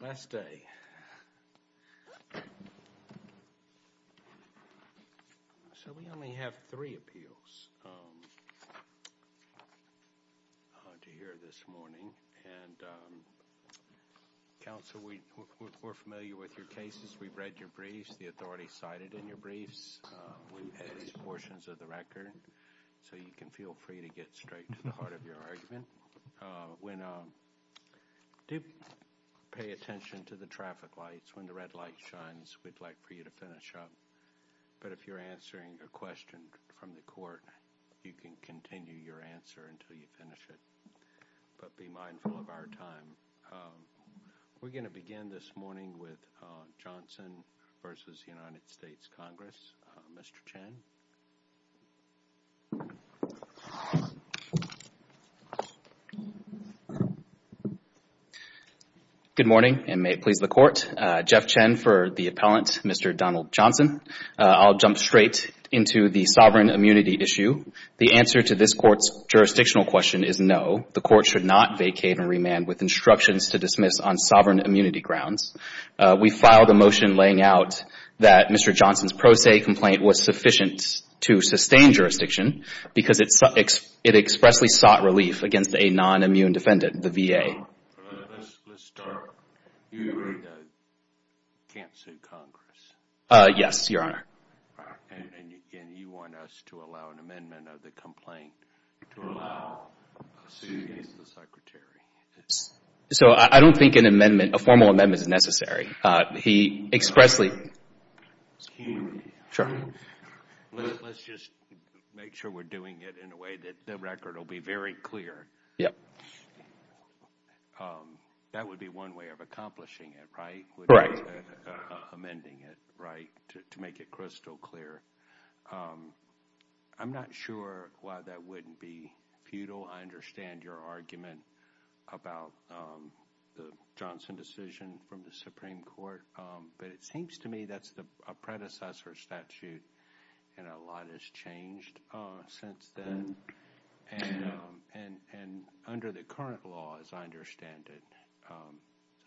Last day. So we only have three appeals to hear this morning. And counsel, we're familiar with your cases. We've read your briefs, the authority cited in your briefs, portions of the record. So you can feel free to get straight to the heart of your argument. When do pay attention to the traffic lights when the red light shines, we'd like for you to finish up. But if you're answering a question from the court, you can continue your answer until you finish it. But be mindful of our time. We're going to begin this morning with Donald Johnson v. United States Congress. Mr. Chen. Good morning and may it please the court. Jeff Chen for the appellant, Mr. Donald Johnson. I'll jump straight into the sovereign immunity issue. The answer to this court's jurisdictional question is no. The court should not vacate and remand with instructions to dismiss on sovereign immunity grounds. We filed a motion laying out that Mr. Johnson's pro se complaint was sufficient to sustain jurisdiction because it expressly sought relief against a non-immune defendant, the VA. Let's start. You can't sue Congress? Yes, Your Honor. And you want us to allow an amendment of the complaint to allow a suit against the Secretary? So I don't think an amendment, a formal amendment is necessary. He expressly sought relief against a non-immune defendant, the VA. Let's just make sure we're doing it in a way that the record will be very clear. Yep. That would be one way of accomplishing it, right? Right. Amending it right to make it crystal clear. I'm not sure why that wouldn't be futile. I understand your argument about the Johnson decision from the Supreme Court. But it seems to me that's a predecessor statute and a lot has changed since then. And under the current law, as I understand it,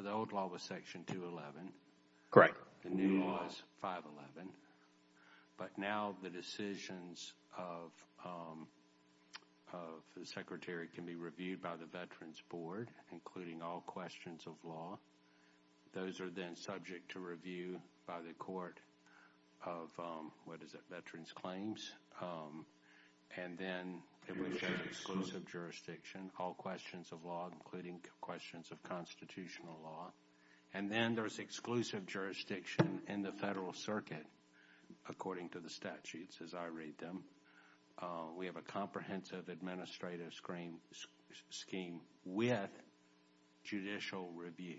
the old law was Section 211. Correct. The new law is 511. But now the decisions of the Secretary can be reviewed by the Veterans Board, including all questions of law. Those are then subject to review by the Court of Veterans Claims. And then there's exclusive jurisdiction, all questions of law, including questions of constitutional law. And then there's exclusive jurisdiction in the Federal Circuit, according to the statutes as I read them. We have a comprehensive administrative scheme with judicial review.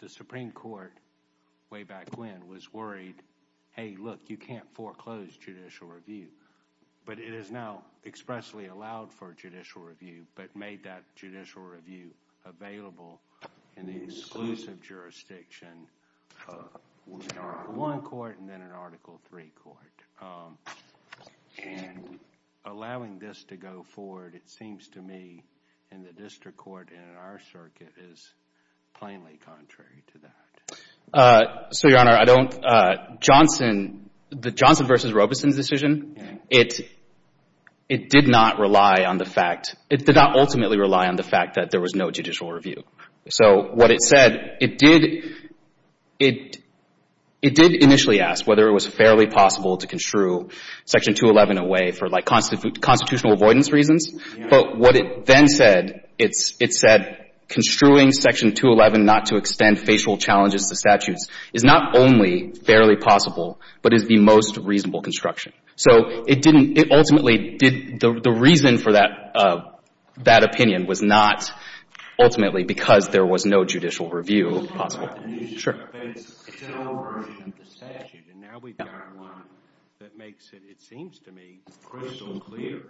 The Supreme Court, way back when, was worried, hey, look, you can't foreclose judicial review. But it is now expressly allowed for judicial review, but made that judicial review available in the exclusive jurisdiction. And allowing this to go forward, it seems to me, in the district court and in our circuit, is plainly contrary to that. So, Your Honor, I don't — Johnson — the Johnson v. Robeson decision, it did not rely on the fact — it did not ultimately rely on the fact that there was no judicial review. So what it said, it did — it did initially ask whether it was fairly possible to construe Section 211 away for, like, constitutional avoidance reasons. But what it then said, it said construing Section 211 not to extend facial challenges to statutes is not only fairly possible, but is the most reasonable construction. So it didn't — it ultimately did — the reason for that — that opinion was not ultimately because there was no judicial review possible. But it's still a version of the statute, and now we've got one that makes it, it seems to me, crystal clear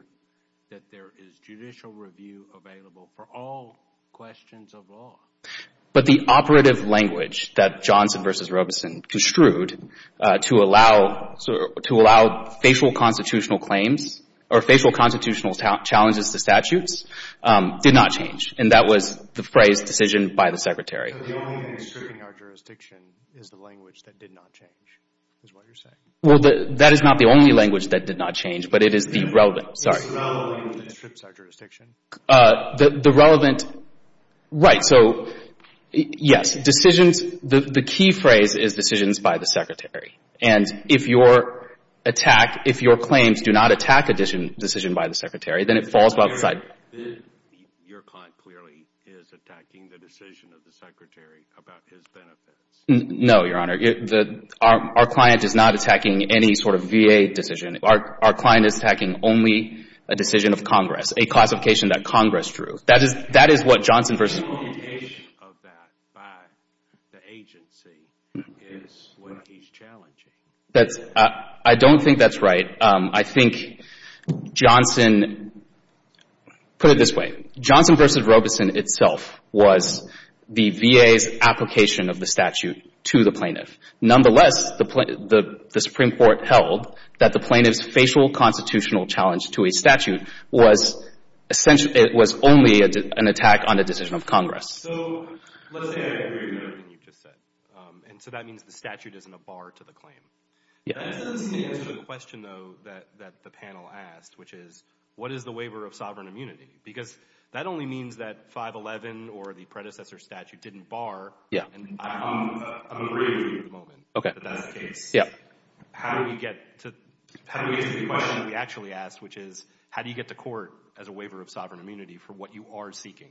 that there is judicial review available for all questions of law. But the operative language that Johnson v. Robeson construed to allow — to allow facial constitutional claims or facial constitutional challenges to statutes did not change. And that was the phrase, decision by the Secretary. So the only thing stripping our jurisdiction is the language that did not change, is what you're saying? Well, that is not the only language that did not change, but it is the relevant — sorry. It's the relevant language that strips our jurisdiction? The relevant — right. So, yes, decisions — the key phrase is decisions by the Secretary. And if your attack — if your claims do not attack a decision by the Secretary, then it falls by the side — Your client clearly is attacking the decision of the Secretary about his benefits. No, Your Honor. Our client is not attacking any sort of VA decision. Our client is attacking only a decision of Congress, a classification that Congress drew. That is — that is what Johnson v. Robeson — The indication of that by the agency is what he's challenging. That's — I don't think that's right. I think Johnson — put it this way. Johnson v. Robeson itself was the VA's application of the statute to the plaintiff. Nonetheless, the Supreme Court held that the plaintiff's facial constitutional challenge to a statute was essentially — it was only an attack on a decision of Congress. So, let's say I agree with everything you've just said. And so that means the statute isn't a bar to the claim. That doesn't seem to answer the question, though, that the panel asked, which is, what is the waiver of sovereign immunity? Because that only means that 511 or the predecessor statute didn't bar. I'm agreeing with you at the moment that that's the case. How do we get to the question that we actually asked, which is, how do you get to court as a waiver of sovereign immunity for what you are seeking?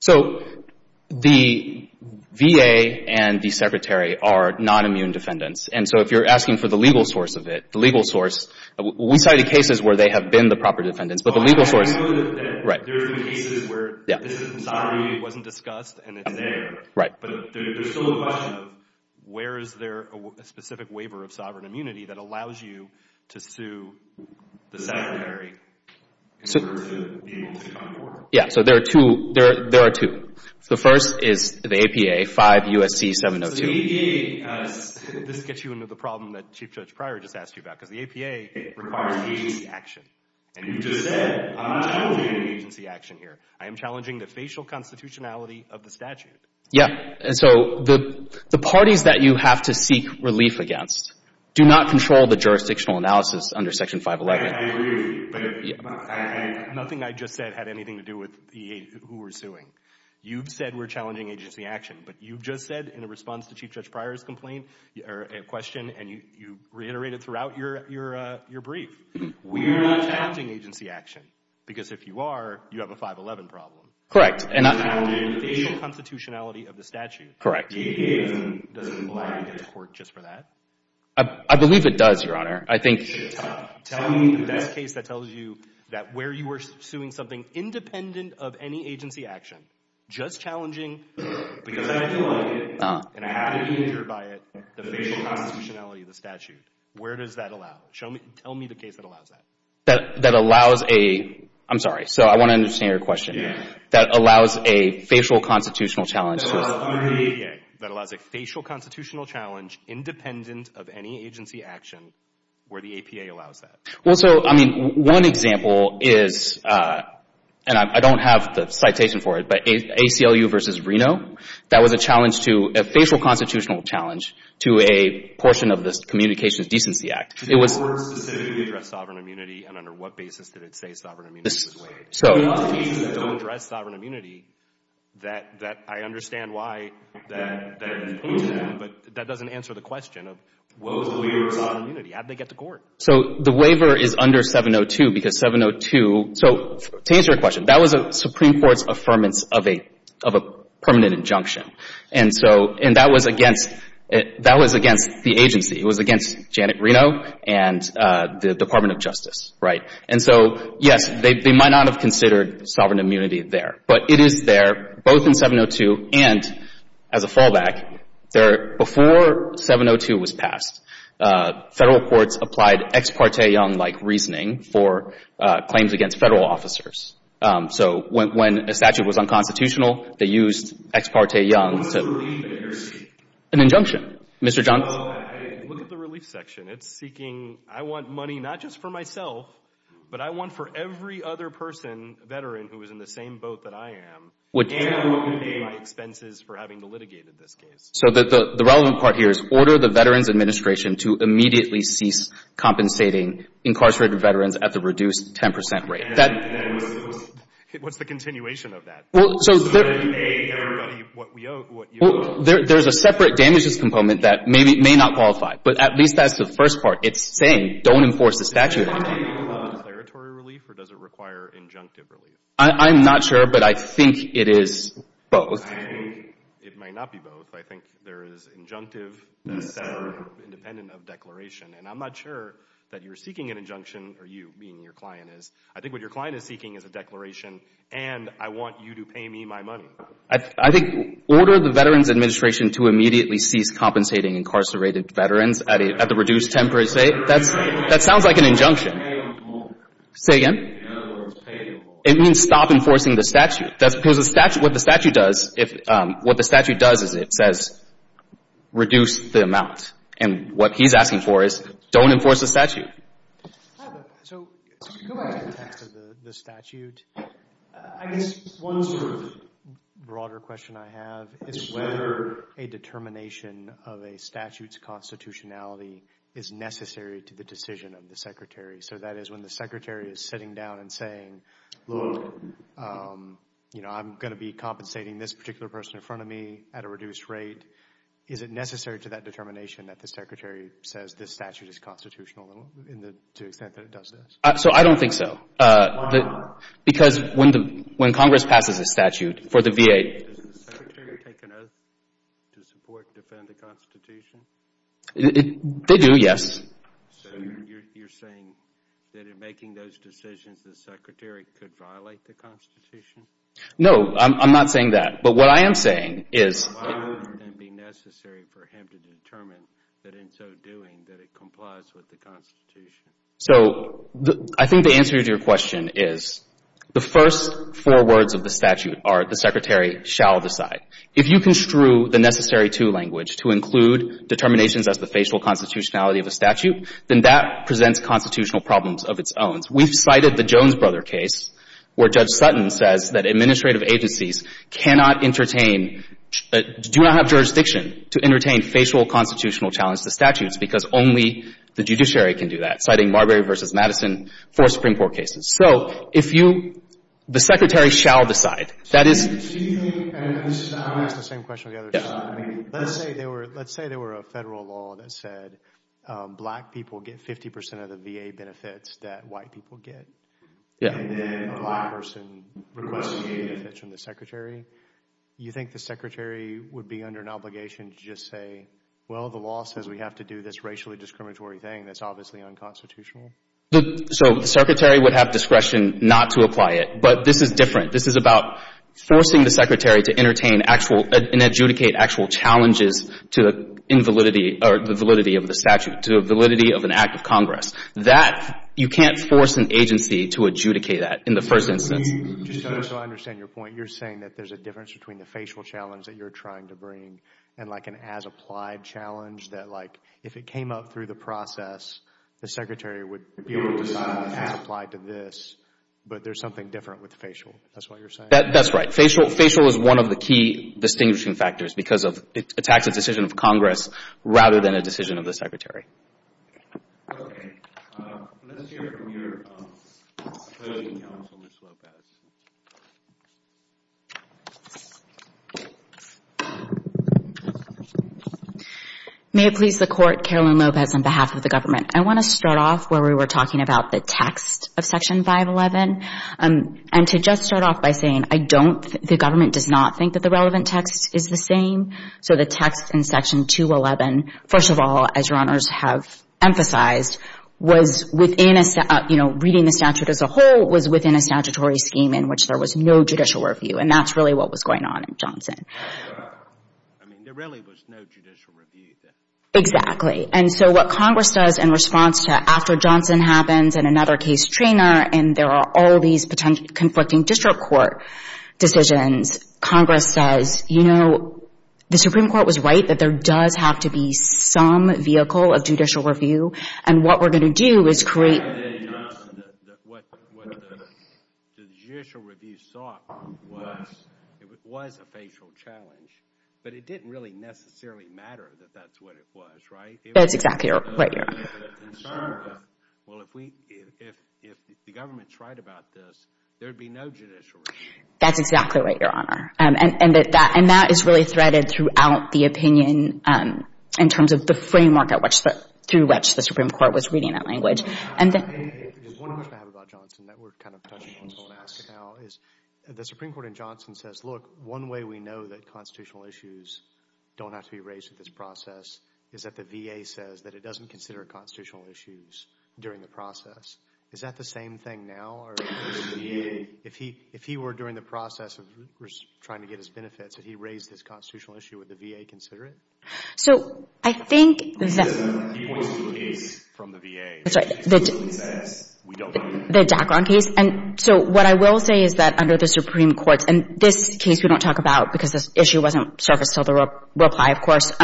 So, the VA and the secretary are non-immune defendants. And so if you're asking for the legal source of it, the legal source — we cited cases where they have been the proper defendants, but the legal source — There have been cases where sovereign immunity wasn't discussed and it's there. But there's still the question of, where is there a specific waiver of sovereign immunity that allows you to sue the secretary in order to be able to come to court? Yeah, so there are two. The first is the APA, 5 U.S.C. 702. So, the APA — this gets you into the problem that Chief Judge Pryor just asked you about. Because the APA requires agency action. And you just said, I'm not challenging agency action here. I am challenging the facial constitutionality of the statute. Yeah. And so, the parties that you have to seek relief against do not control the jurisdictional analysis under Section 511. I agree with you. But nothing I just said had anything to do with who we're suing. You've said we're challenging agency action. But you've just said, in response to Chief Judge Pryor's question, and you reiterated throughout your brief — We're not challenging agency action. Because if you are, you have a 511 problem. Correct. And I'm challenging the facial constitutionality of the statute. Correct. The APA doesn't allow you to get to court just for that? I believe it does, Your Honor. I think — Tell me the best case that tells you that where you were suing something independent of any agency action, just challenging — Because I feel like it, and I haven't been injured by it, the facial constitutionality of the statute. Where does that allow? Tell me the case that allows that. That allows a — I'm sorry. So, I want to understand your question. That allows a facial constitutional challenge to a — That allows a facial constitutional challenge independent of any agency action where the APA allows that. Well, so, I mean, one example is — and I don't have the citation for it, but ACLU v. Reno, that was a challenge to — a facial constitutional challenge to a portion of this Communications Decency Act. It was — Did the waiver specifically address sovereign immunity? And under what basis did it say sovereign immunity was waived? There are a lot of cases that don't address sovereign immunity that — that I understand why that — But that doesn't answer the question of what was the waiver of sovereign immunity? How did they get to court? So, the waiver is under 702 because 702 — so, to answer your question, that was a Supreme Court's affirmance of a — of a permanent injunction. And so — and that was against — that was against the agency. It was against Janet Reno and the Department of Justice, right? And so, yes, they might not have considered sovereign immunity there. But it is there, both in 702 and as a fallback. There — before 702 was passed, federal courts applied ex parte Young-like reasoning for claims against federal officers. So, when a statute was unconstitutional, they used ex parte Young to — What was the relief that you're seeking? An injunction. Mr. Johnson. Well, I — look at the relief section. It's seeking — I want money not just for myself, but I want for every other person, veteran, who is in the same boat that I am. Would — And what would be my expenses for having litigated this case? So, the relevant part here is order the Veterans Administration to immediately cease compensating incarcerated veterans at the reduced 10 percent rate. That — What's the continuation of that? Well, so — A, everybody — what we owe — what you owe. So, there's a separate damages component that may not qualify. But at least that's the first part. It's saying, don't enforce the statute on me. Does it require declaratory relief, or does it require injunctive relief? I'm not sure, but I think it is both. I think it may not be both. I think there is injunctive that is independent of declaration. And I'm not sure that you're seeking an injunction — or you, meaning your client is. I think what your client is seeking is a declaration, and I want you to pay me my money. I think order the Veterans Administration to immediately cease compensating incarcerated veterans at the reduced 10 percent. That sounds like an injunction. Say again? It means stop enforcing the statute. Because what the statute does is it says, reduce the amount. And what he's asking for is, don't enforce the statute. So, go back to the text of the statute. I guess one sort of broader question I have is whether a determination of a statute's constitutionality is necessary to the decision of the secretary. So that is when the secretary is sitting down and saying, look, I'm going to be compensating this particular person in front of me at a reduced rate. Is it necessary to that determination that the secretary says this statute is constitutional to the extent that it does this? So, I don't think so. Why not? Because when Congress passes a statute for the VA — Does the secretary take an oath to support and defend the Constitution? They do, yes. So you're saying that in making those decisions, the secretary could violate the Constitution? No, I'm not saying that. But what I am saying is — Why wouldn't it be necessary for him to determine that in so doing that it complies with the Constitution? So, I think the answer to your question is the first four words of the statute are the secretary shall decide. If you construe the necessary-to language to include determinations as the facial constitutionality of a statute, then that presents constitutional problems of its own. We've cited the Jones Brother case where Judge Sutton says that administrative agencies cannot entertain — do not have jurisdiction to entertain facial constitutional challenges to statutes because only the judiciary can do that, citing Marbury v. Madison, four Supreme Court cases. So, if you — the secretary shall decide. That is — Do you think — I'm going to ask the same question to the other side. Let's say there were a federal law that said black people get 50 percent of the VA benefits that white people get. Yeah. And then a black person requests VA benefits from the secretary. You think the secretary would be under an obligation to just say, well, the law says we have to do this racially discriminatory thing that's obviously unconstitutional? So, the secretary would have discretion not to apply it. But this is different. This is about forcing the secretary to entertain actual — and adjudicate actual challenges to the invalidity — or the validity of the statute, to the validity of an act of Congress. That — you can't force an agency to adjudicate that in the first instance. Just so I understand your point, you're saying that there's a difference between the facial challenge that you're trying to bring and, like, an as-applied challenge that, like, if it came up through the process, the secretary would be able to decide as-applied to this, but there's something different with the facial. That's what you're saying? That's right. Facial is one of the key distinguishing factors because it attacks a decision of Congress rather than a decision of the secretary. Okay. Let's hear from your opposing counsel, Ms. Lopez. May it please the Court, Caroline Lopez, on behalf of the government. I want to start off where we were talking about the text of Section 511. And to just start off by saying I don't — the government does not think that the relevant text is the same. So the text in Section 211, first of all, as Your Honors have emphasized, was within a — you know, reading the statute as a whole was within a statutory scheme in which there was no judicial review. And that's really what was going on in Johnson. I mean, there really was no judicial review there. Exactly. And so what Congress does in response to — after Johnson happens and another case trainer and there are all these potentially conflicting district court decisions, Congress says, you know, the Supreme Court was right that there does have to be some vehicle of judicial review. And what we're going to do is create — What the judicial review sought was a facial challenge. But it didn't really necessarily matter that that's what it was, right? That's exactly right, Your Honor. Well, if we — if the government's right about this, there would be no judicial review. That's exactly right, Your Honor. And that is really threaded throughout the opinion in terms of the framework at which the — through which the Supreme Court was reading that language. And then — One question I have about Johnson that we're kind of touching on and asking now is, the Supreme Court in Johnson says, look, one way we know that constitutional issues don't have to be raised at this process is that the VA says that it doesn't consider constitutional issues during the process. Is that the same thing now? Or is the VA — if he were during the process of trying to get his benefits and he raised this constitutional issue, would the VA consider it? So I think that — He points to the case from the VA. That's right. He literally says, we don't know. The Dachron case. And so what I will say is that under the Supreme Court — and this case we don't talk about because this issue wasn't surfaced until the reply, of course —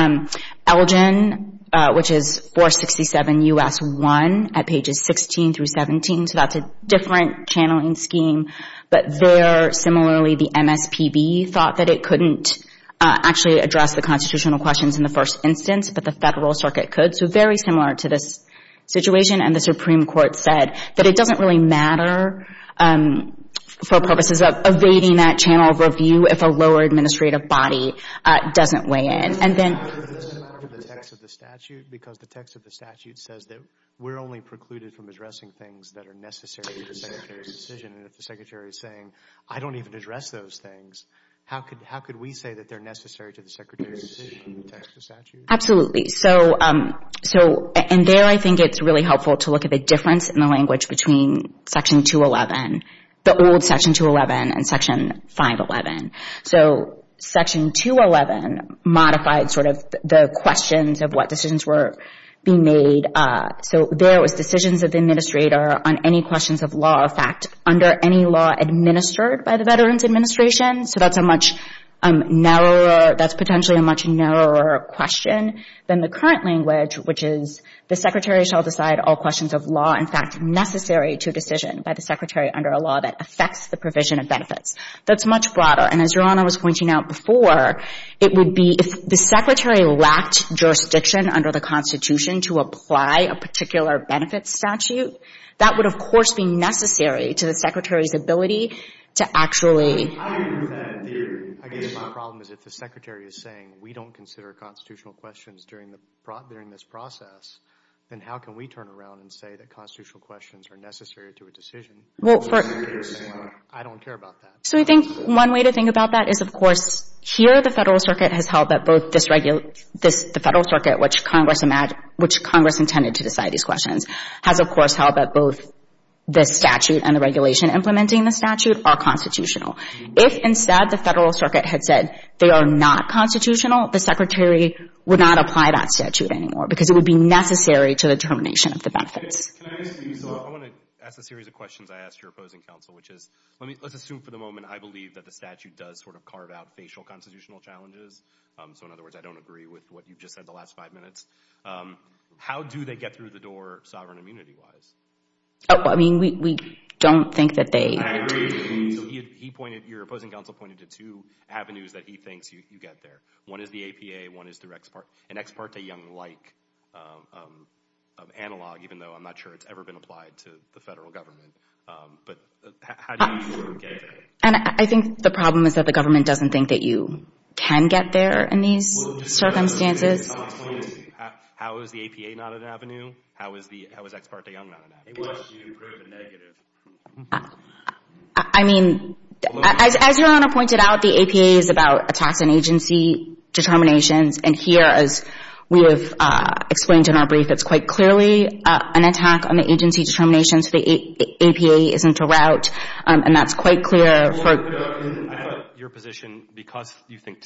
Elgin, which is 467 U.S. 1 at pages 16 through 17, so that's a different channeling scheme. But there, similarly, the MSPB thought that it couldn't actually address the constitutional questions in the first instance, but the Federal Circuit could. So very similar to this situation. And the Supreme Court said that it doesn't really matter for purposes of evading that channel of review if a lower administrative body doesn't weigh in. And then — Does it matter for the text of the statute? Because the text of the statute says that we're only precluded from addressing things that are necessary to the Secretary's decision. And if the Secretary is saying, I don't even address those things, how could we say that they're necessary to the Secretary's decision in the text of the statute? Absolutely. So in there, I think it's really helpful to look at the difference in the language between Section 211, the old Section 211, and Section 511. So Section 211 modified sort of the questions of what decisions were being made. So there was decisions of the administrator on any questions of law, in fact, under any law administered by the Veterans Administration. So that's a much narrower — that's potentially a much narrower question than the current language, which is the Secretary shall decide all questions of law, in fact, necessary to a decision by the Secretary under a law that affects the provision of benefits. That's much broader. And as Your Honor was pointing out before, it would be — if the Secretary lacked jurisdiction under the Constitution to apply a particular benefits statute, that would, of course, be necessary to the Secretary's ability to actually — I agree with that theory. I guess my problem is if the Secretary is saying we don't consider constitutional questions during this process, then how can we turn around and say that constitutional questions are necessary to a decision? I don't care about that. So I think one way to think about that is, of course, here the Federal Circuit has held that both this — the Federal Circuit, which Congress intended to decide these questions, has, of course, held that both the statute and the regulation implementing the statute are constitutional. If, instead, the Federal Circuit had said they are not constitutional, the Secretary would not apply that statute anymore because it would be necessary to the termination of the benefits. Can I ask you — so I want to ask a series of questions I ask your opposing counsel, which is let's assume for the moment I believe that the statute does sort of carve out facial constitutional challenges. So, in other words, I don't agree with what you've just said the last five minutes. How do they get through the door sovereign immunity-wise? I mean, we don't think that they — I agree. He pointed — your opposing counsel pointed to two avenues that he thinks you get there. One is the APA. One is through an Ex parte Young-like analog, even though I'm not sure it's ever been applied to the Federal Government. But how do you get there? And I think the problem is that the government doesn't think that you can get there in these circumstances. How is the APA not an avenue? How is Ex parte Young not an avenue? Unless you prove a negative. I mean, as Your Honor pointed out, the APA is about attacks on agency determinations. And here, as we have explained in our brief, it's quite clearly an attack on the agency determinations. The APA isn't a route. And that's quite clear for — I have your position, because you think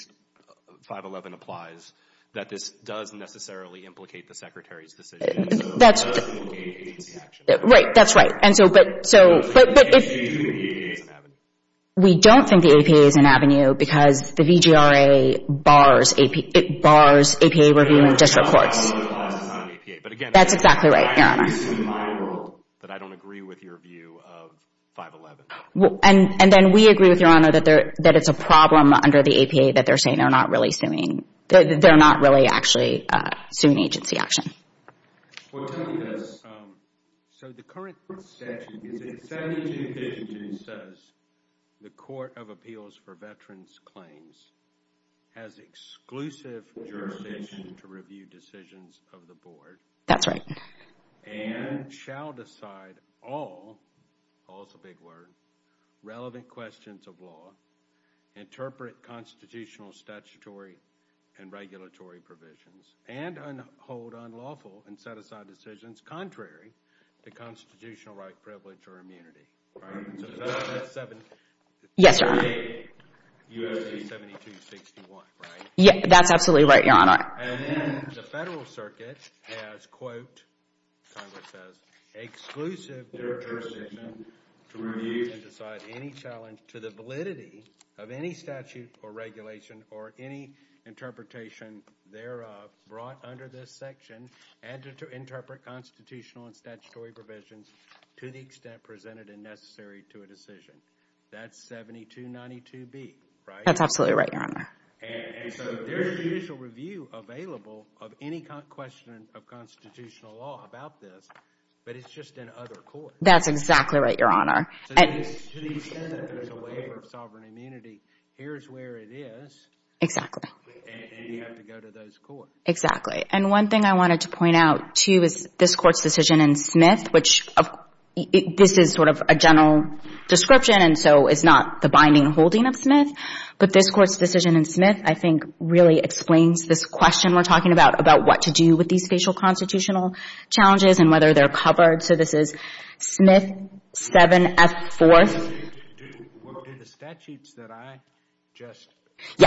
511 applies, that this does necessarily implicate the Secretary's decision. Right. That's right. But if — We don't think the APA is an avenue. We don't think the APA is an avenue, because the VGRA bars APA review in district courts. But again — That's exactly right, Your Honor. I can see in my world that I don't agree with your view of 511. And then we agree with Your Honor that it's a problem under the APA that they're saying they're not really suing — they're not really actually suing agency action. Well, tell me this. So the current statute, is it 72-52, says the Court of Appeals for Veterans Claims has exclusive jurisdiction to review decisions of the board — That's right. — and shall decide all — all's a big word — relevant questions of law, interpret constitutional, statutory, and regulatory provisions, and hold unlawful and set-aside decisions contrary to constitutional right, privilege, or immunity. All right? So that's — Yes, Your Honor. — the U.S.C. 72-61, right? Yeah, that's absolutely right, Your Honor. And then the Federal Circuit has, quote, Congress says, exclusive jurisdiction to review and decide any challenge to the validity of any statute or regulation or any interpretation thereof brought under this section and to interpret constitutional and statutory provisions to the extent presented and necessary to a decision. That's 72-92B, right? That's absolutely right, Your Honor. And so there's judicial review available of any question of constitutional law about this, but it's just in other courts. That's exactly right, Your Honor. To the extent that there's a waiver of sovereign immunity, here's where it is. And you have to go to those courts. Exactly. And one thing I wanted to point out, too, is this Court's decision in Smith, which this is sort of a general description and so it's not the binding holding of Smith. But this Court's decision in Smith, I think, really explains this question we're talking about, about what to do with these facial constitutional challenges and whether they're covered. So this is Smith 7F4. Do the statutes that I just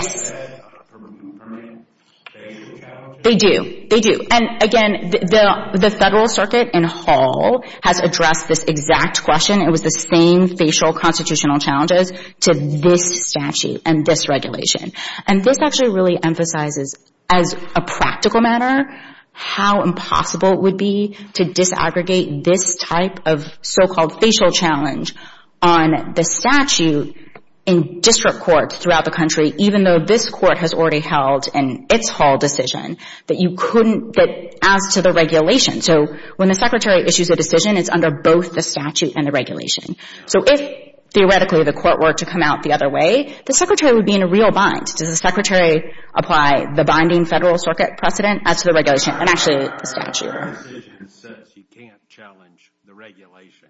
said have permanent facial challenges? They do. They do. And again, the Federal Circuit in Hall has addressed this exact question. It was the same facial constitutional challenges to this statute and this regulation. And this actually really emphasizes, as a practical matter, how impossible it would be to disaggregate this type of so-called facial challenge on the statute in district courts throughout the country, even though this Court has already held in its whole decision that you couldn't get as to the regulation. So when the Secretary issues a decision, it's under both the statute and the regulation. So if, theoretically, the Court were to come out the other way, the Secretary would be in a real bind. Does the Secretary apply the binding Federal Circuit precedent as to the regulation, and actually the statute? Our decision says you can't challenge the regulation.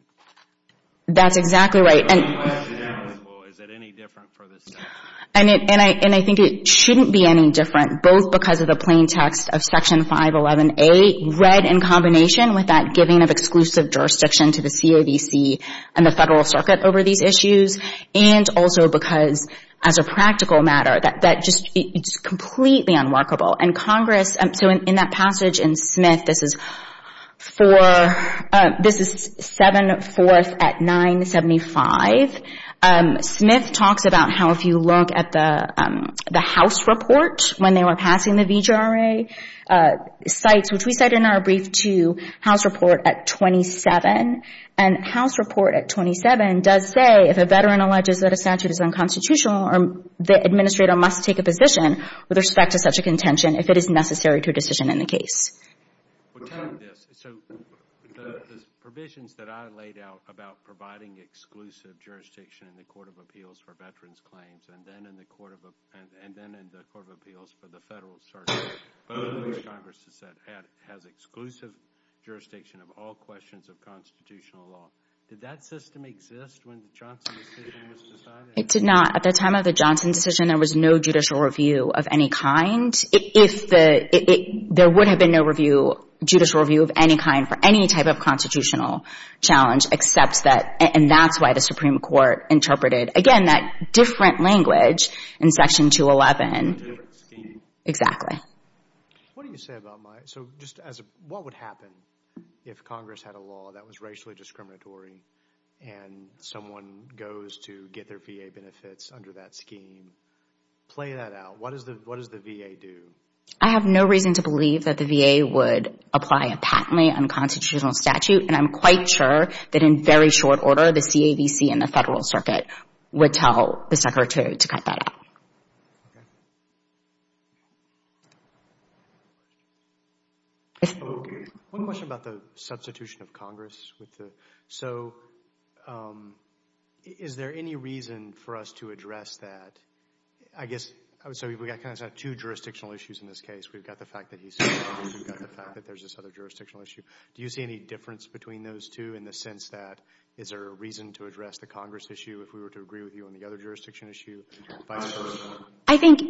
That's exactly right. Is it any different for this statute? And I think it shouldn't be any different, both because of the plain text of Section 511A, read in combination with that giving of exclusive jurisdiction to the CAVC and the Federal Circuit over these issues, and also because, as a practical matter, that just, it's completely unworkable. And Congress, so in that passage in Smith, this is for, this is 7-4th at 975. Smith talks about how, if you look at the House report, when they were passing the VGRA, cites, which we cite in our brief too, House Report at 27. And House Report at 27 does say, if a veteran alleges that a statute is unconstitutional, the administrator must take a position with respect to such a contention if it is necessary to a decision in the case. So the provisions that I laid out about providing exclusive jurisdiction in the Court of Appeals for veterans' claims and then in the Court of Appeals for the Federal Circuit, which Congress has said has exclusive jurisdiction of all questions of constitutional law, did that system exist when the Johnson decision was decided? It did not. At the time of the Johnson decision, there was no judicial review of any kind. There would have been no judicial review of any kind for any type of constitutional challenge, except that, and that's why the Supreme Court interpreted, again, that different language in Section 211. A different scheme. Exactly. What do you say about my, so just as, what would happen if Congress had a law that was racially discriminatory and someone goes to get their VA benefits under that scheme? Play that out. What does the VA do? I have no reason to believe that the VA would apply a patently unconstitutional statute, and I'm quite sure that in very short order, the CAVC and the Federal Circuit would tell the Secretary to cut that out. Okay. One question about the substitution of Congress. So is there any reason for us to address that? I guess, so we've got two jurisdictional issues in this case. We've got the fact that he's here and we've got the fact that there's this other jurisdictional issue. Do you see any difference between those two in the sense that is there a reason to address the Congress issue if we were to agree with you on the other jurisdiction issue? I think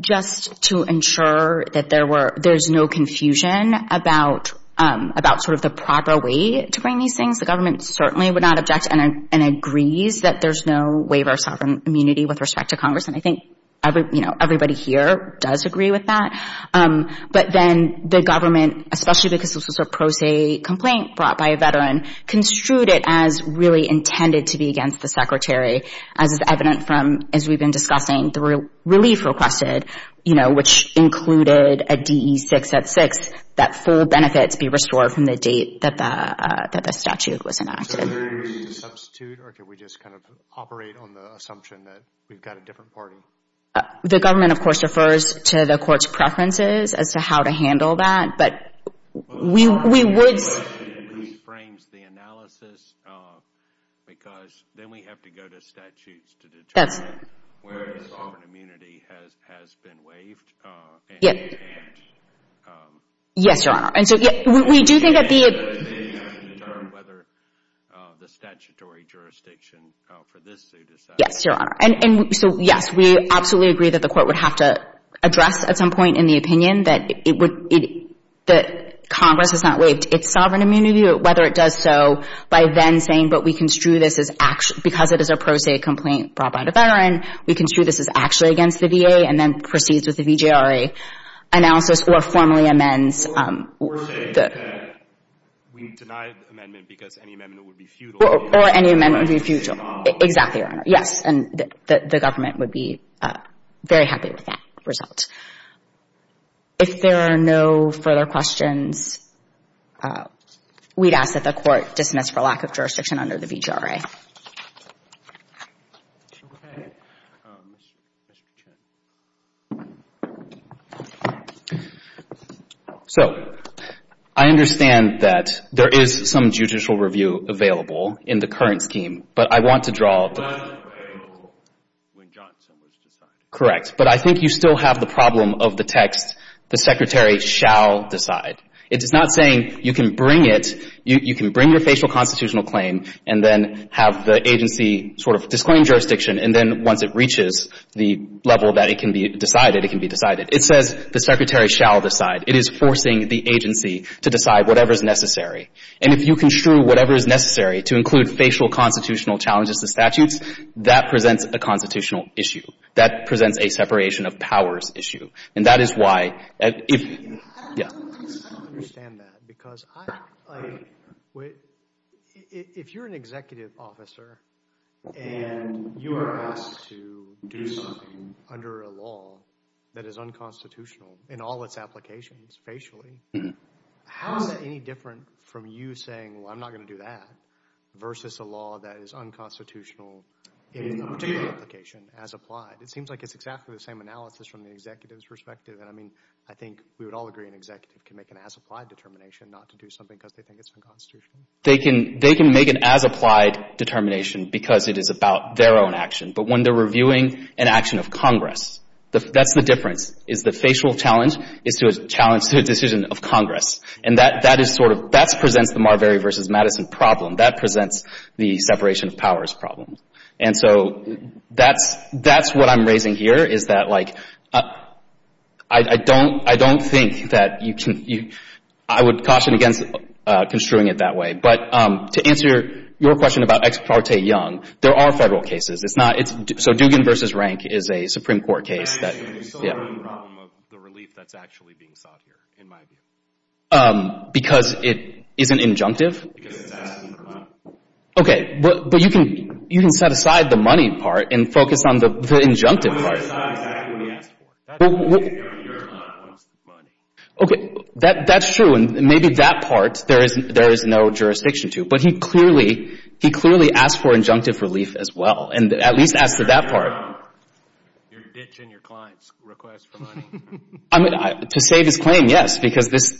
just to ensure that there were, there's no confusion about, about sort of the proper way to bring these things. The government certainly would not object and agrees that there's no waiver of sovereign immunity with respect to Congress, and I think everybody here does agree with that. But then the government, especially because this was a pro se complaint brought by a veteran, construed it as really intended to be against the Secretary, as is evident from, as we've been discussing, the relief requested, you know, which included a DE 6.6, that full benefits be restored from the date that the statute was enacted. So there is a substitute, or can we just kind of operate on the assumption that we've got a different party? The government, of course, refers to the court's preferences as to how to handle that, but we would... The question re-frames the analysis because then we have to go to statutes to determine where the sovereign immunity has been waived and enhanced. Yes, Your Honor. And so we do think that the... To determine whether the statutory jurisdiction for this suit is... Yes, Your Honor. And so, yes, we absolutely agree that the court would have to address at some point in the opinion that Congress has not waived its sovereign immunity, whether it does so by then saying, but we construe this as... Because it is a pro se complaint brought by a veteran, we construe this as actually against the VA and then proceeds with the VJRA analysis or formally amends... Or say that we deny the amendment because any amendment would be futile. Or any amendment would be futile. Exactly, Your Honor. Yes, and the government would be very happy with that result. If there are no further questions, we'd ask that the court dismiss for lack of jurisdiction under the VJRA. Okay, Mr. Chen. So, I understand that there is some judicial review available in the current scheme, but I want to draw... It was available when Johnson was decided. Correct, but I think you still have the problem of the text, the secretary shall decide. It is not saying you can bring it, you can bring your facial constitutional claim and then have the agency sort of disclaim jurisdiction and then once it reaches the level that it can be decided, it can be decided. It says the secretary shall decide. It is forcing the agency to decide whatever is necessary. And if you construe whatever is necessary to include facial constitutional challenges to statutes, that presents a constitutional issue. That presents a separation of powers issue. And that is why... I don't understand that because I... If you are an executive officer and you are asked to do something under a law that is unconstitutional in all its applications, facially, how is that any different from you saying, well, I am not going to do that, versus a law that is unconstitutional in a particular application as applied. It seems like it is exactly the same analysis from the executive's perspective. I mean, I think we would all agree an executive can make an as applied determination not to do something because they think it is unconstitutional. They can make an as applied determination because it is about their own action. But when they are reviewing an action of Congress, that is the difference. The facial challenge is a challenge to a decision of Congress. And that presents the Marbury versus Madison problem. That presents the separation of powers problem. And so that is what I am raising here. I don't think that you can... I would caution against construing it that way. But to answer your question about Ex Parte Young, there are federal cases. It is not... So Dugan versus Rank is a Supreme Court case that... Because it is an injunctive? Okay. But you can set aside the money part and focus on the injunctive part. Okay. That is true. And maybe that part there is no jurisdiction to. But he clearly asked for injunctive relief as well. And at least asked for that part. I mean, to save his claim, yes. Because this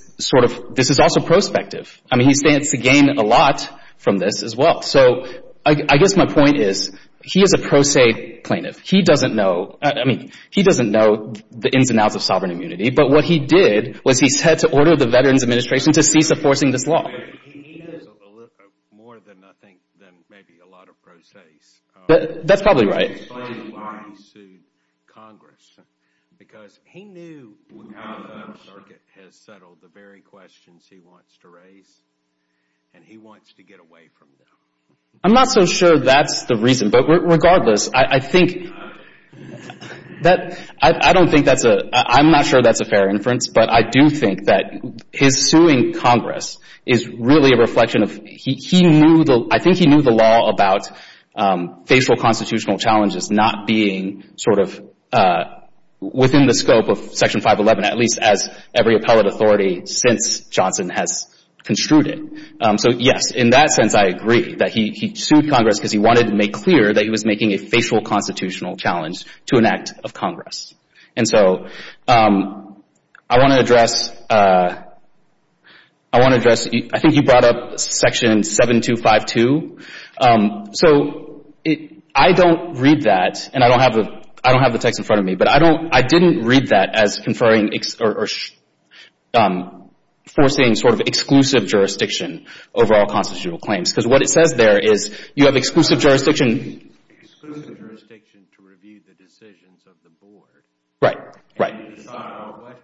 is also prospective. I mean, he stands to gain a lot from this as well. So I guess my point is he is a pro se plaintiff. He doesn't know... I mean, he doesn't know the ins and outs of sovereign immunity. But what he did was he said to order the Veterans Administration to cease enforcing this law. That is probably right. I am not so sure that is the reason. But regardless, I think... I don't think that is a... I am not sure that is a fair inference. But I do think that his suing Congress is really a reflection of... I think he knew the law about facial constitutional challenges not being sort of within the scope of Section 511, at least as every appellate authority since Johnson has construed it. So yes, in that sense I agree that he sued Congress because he wanted to make clear that he was making a facial constitutional challenge to an act of Congress. And so I want to address... I want to address... I think you brought up Section 7252. So I don't read that, and I don't have the text in front of me, but I didn't read that as conferring or forcing sort of exclusive jurisdiction over all constitutional claims. Because what it says there is you have exclusive jurisdiction... Exclusive jurisdiction to review the decisions of the Board. Right, right. And you decide what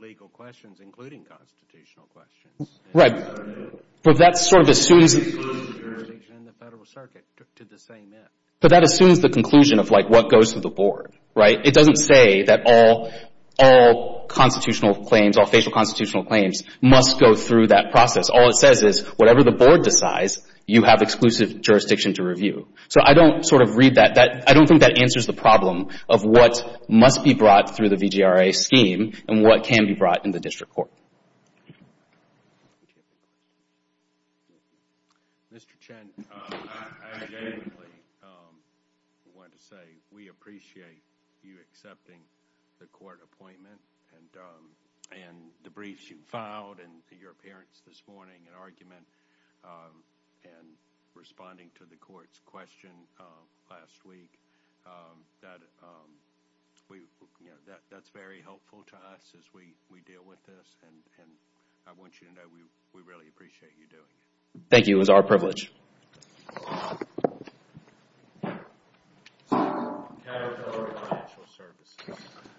legal questions, including constitutional questions... But that sort of assumes... Exclusive jurisdiction in the Federal Circuit to the same end. But that assumes the conclusion of like what goes to the Board, right? It doesn't say that all constitutional claims, all facial constitutional claims must go through that process. All it says is whatever the Board decides, you have exclusive jurisdiction to review. So I don't sort of read that. I don't think that answers the problem of what must be brought through the VGRA scheme and what can be brought in the district court. Mr. Chen, I just want to say we appreciate you accepting the court appointment and the briefs you filed and your appearance this morning and argument and responding to the court's question last week. That's very helpful to us as we deal with this. And I want you to know we really appreciate you doing it. Thank you. It was our privilege.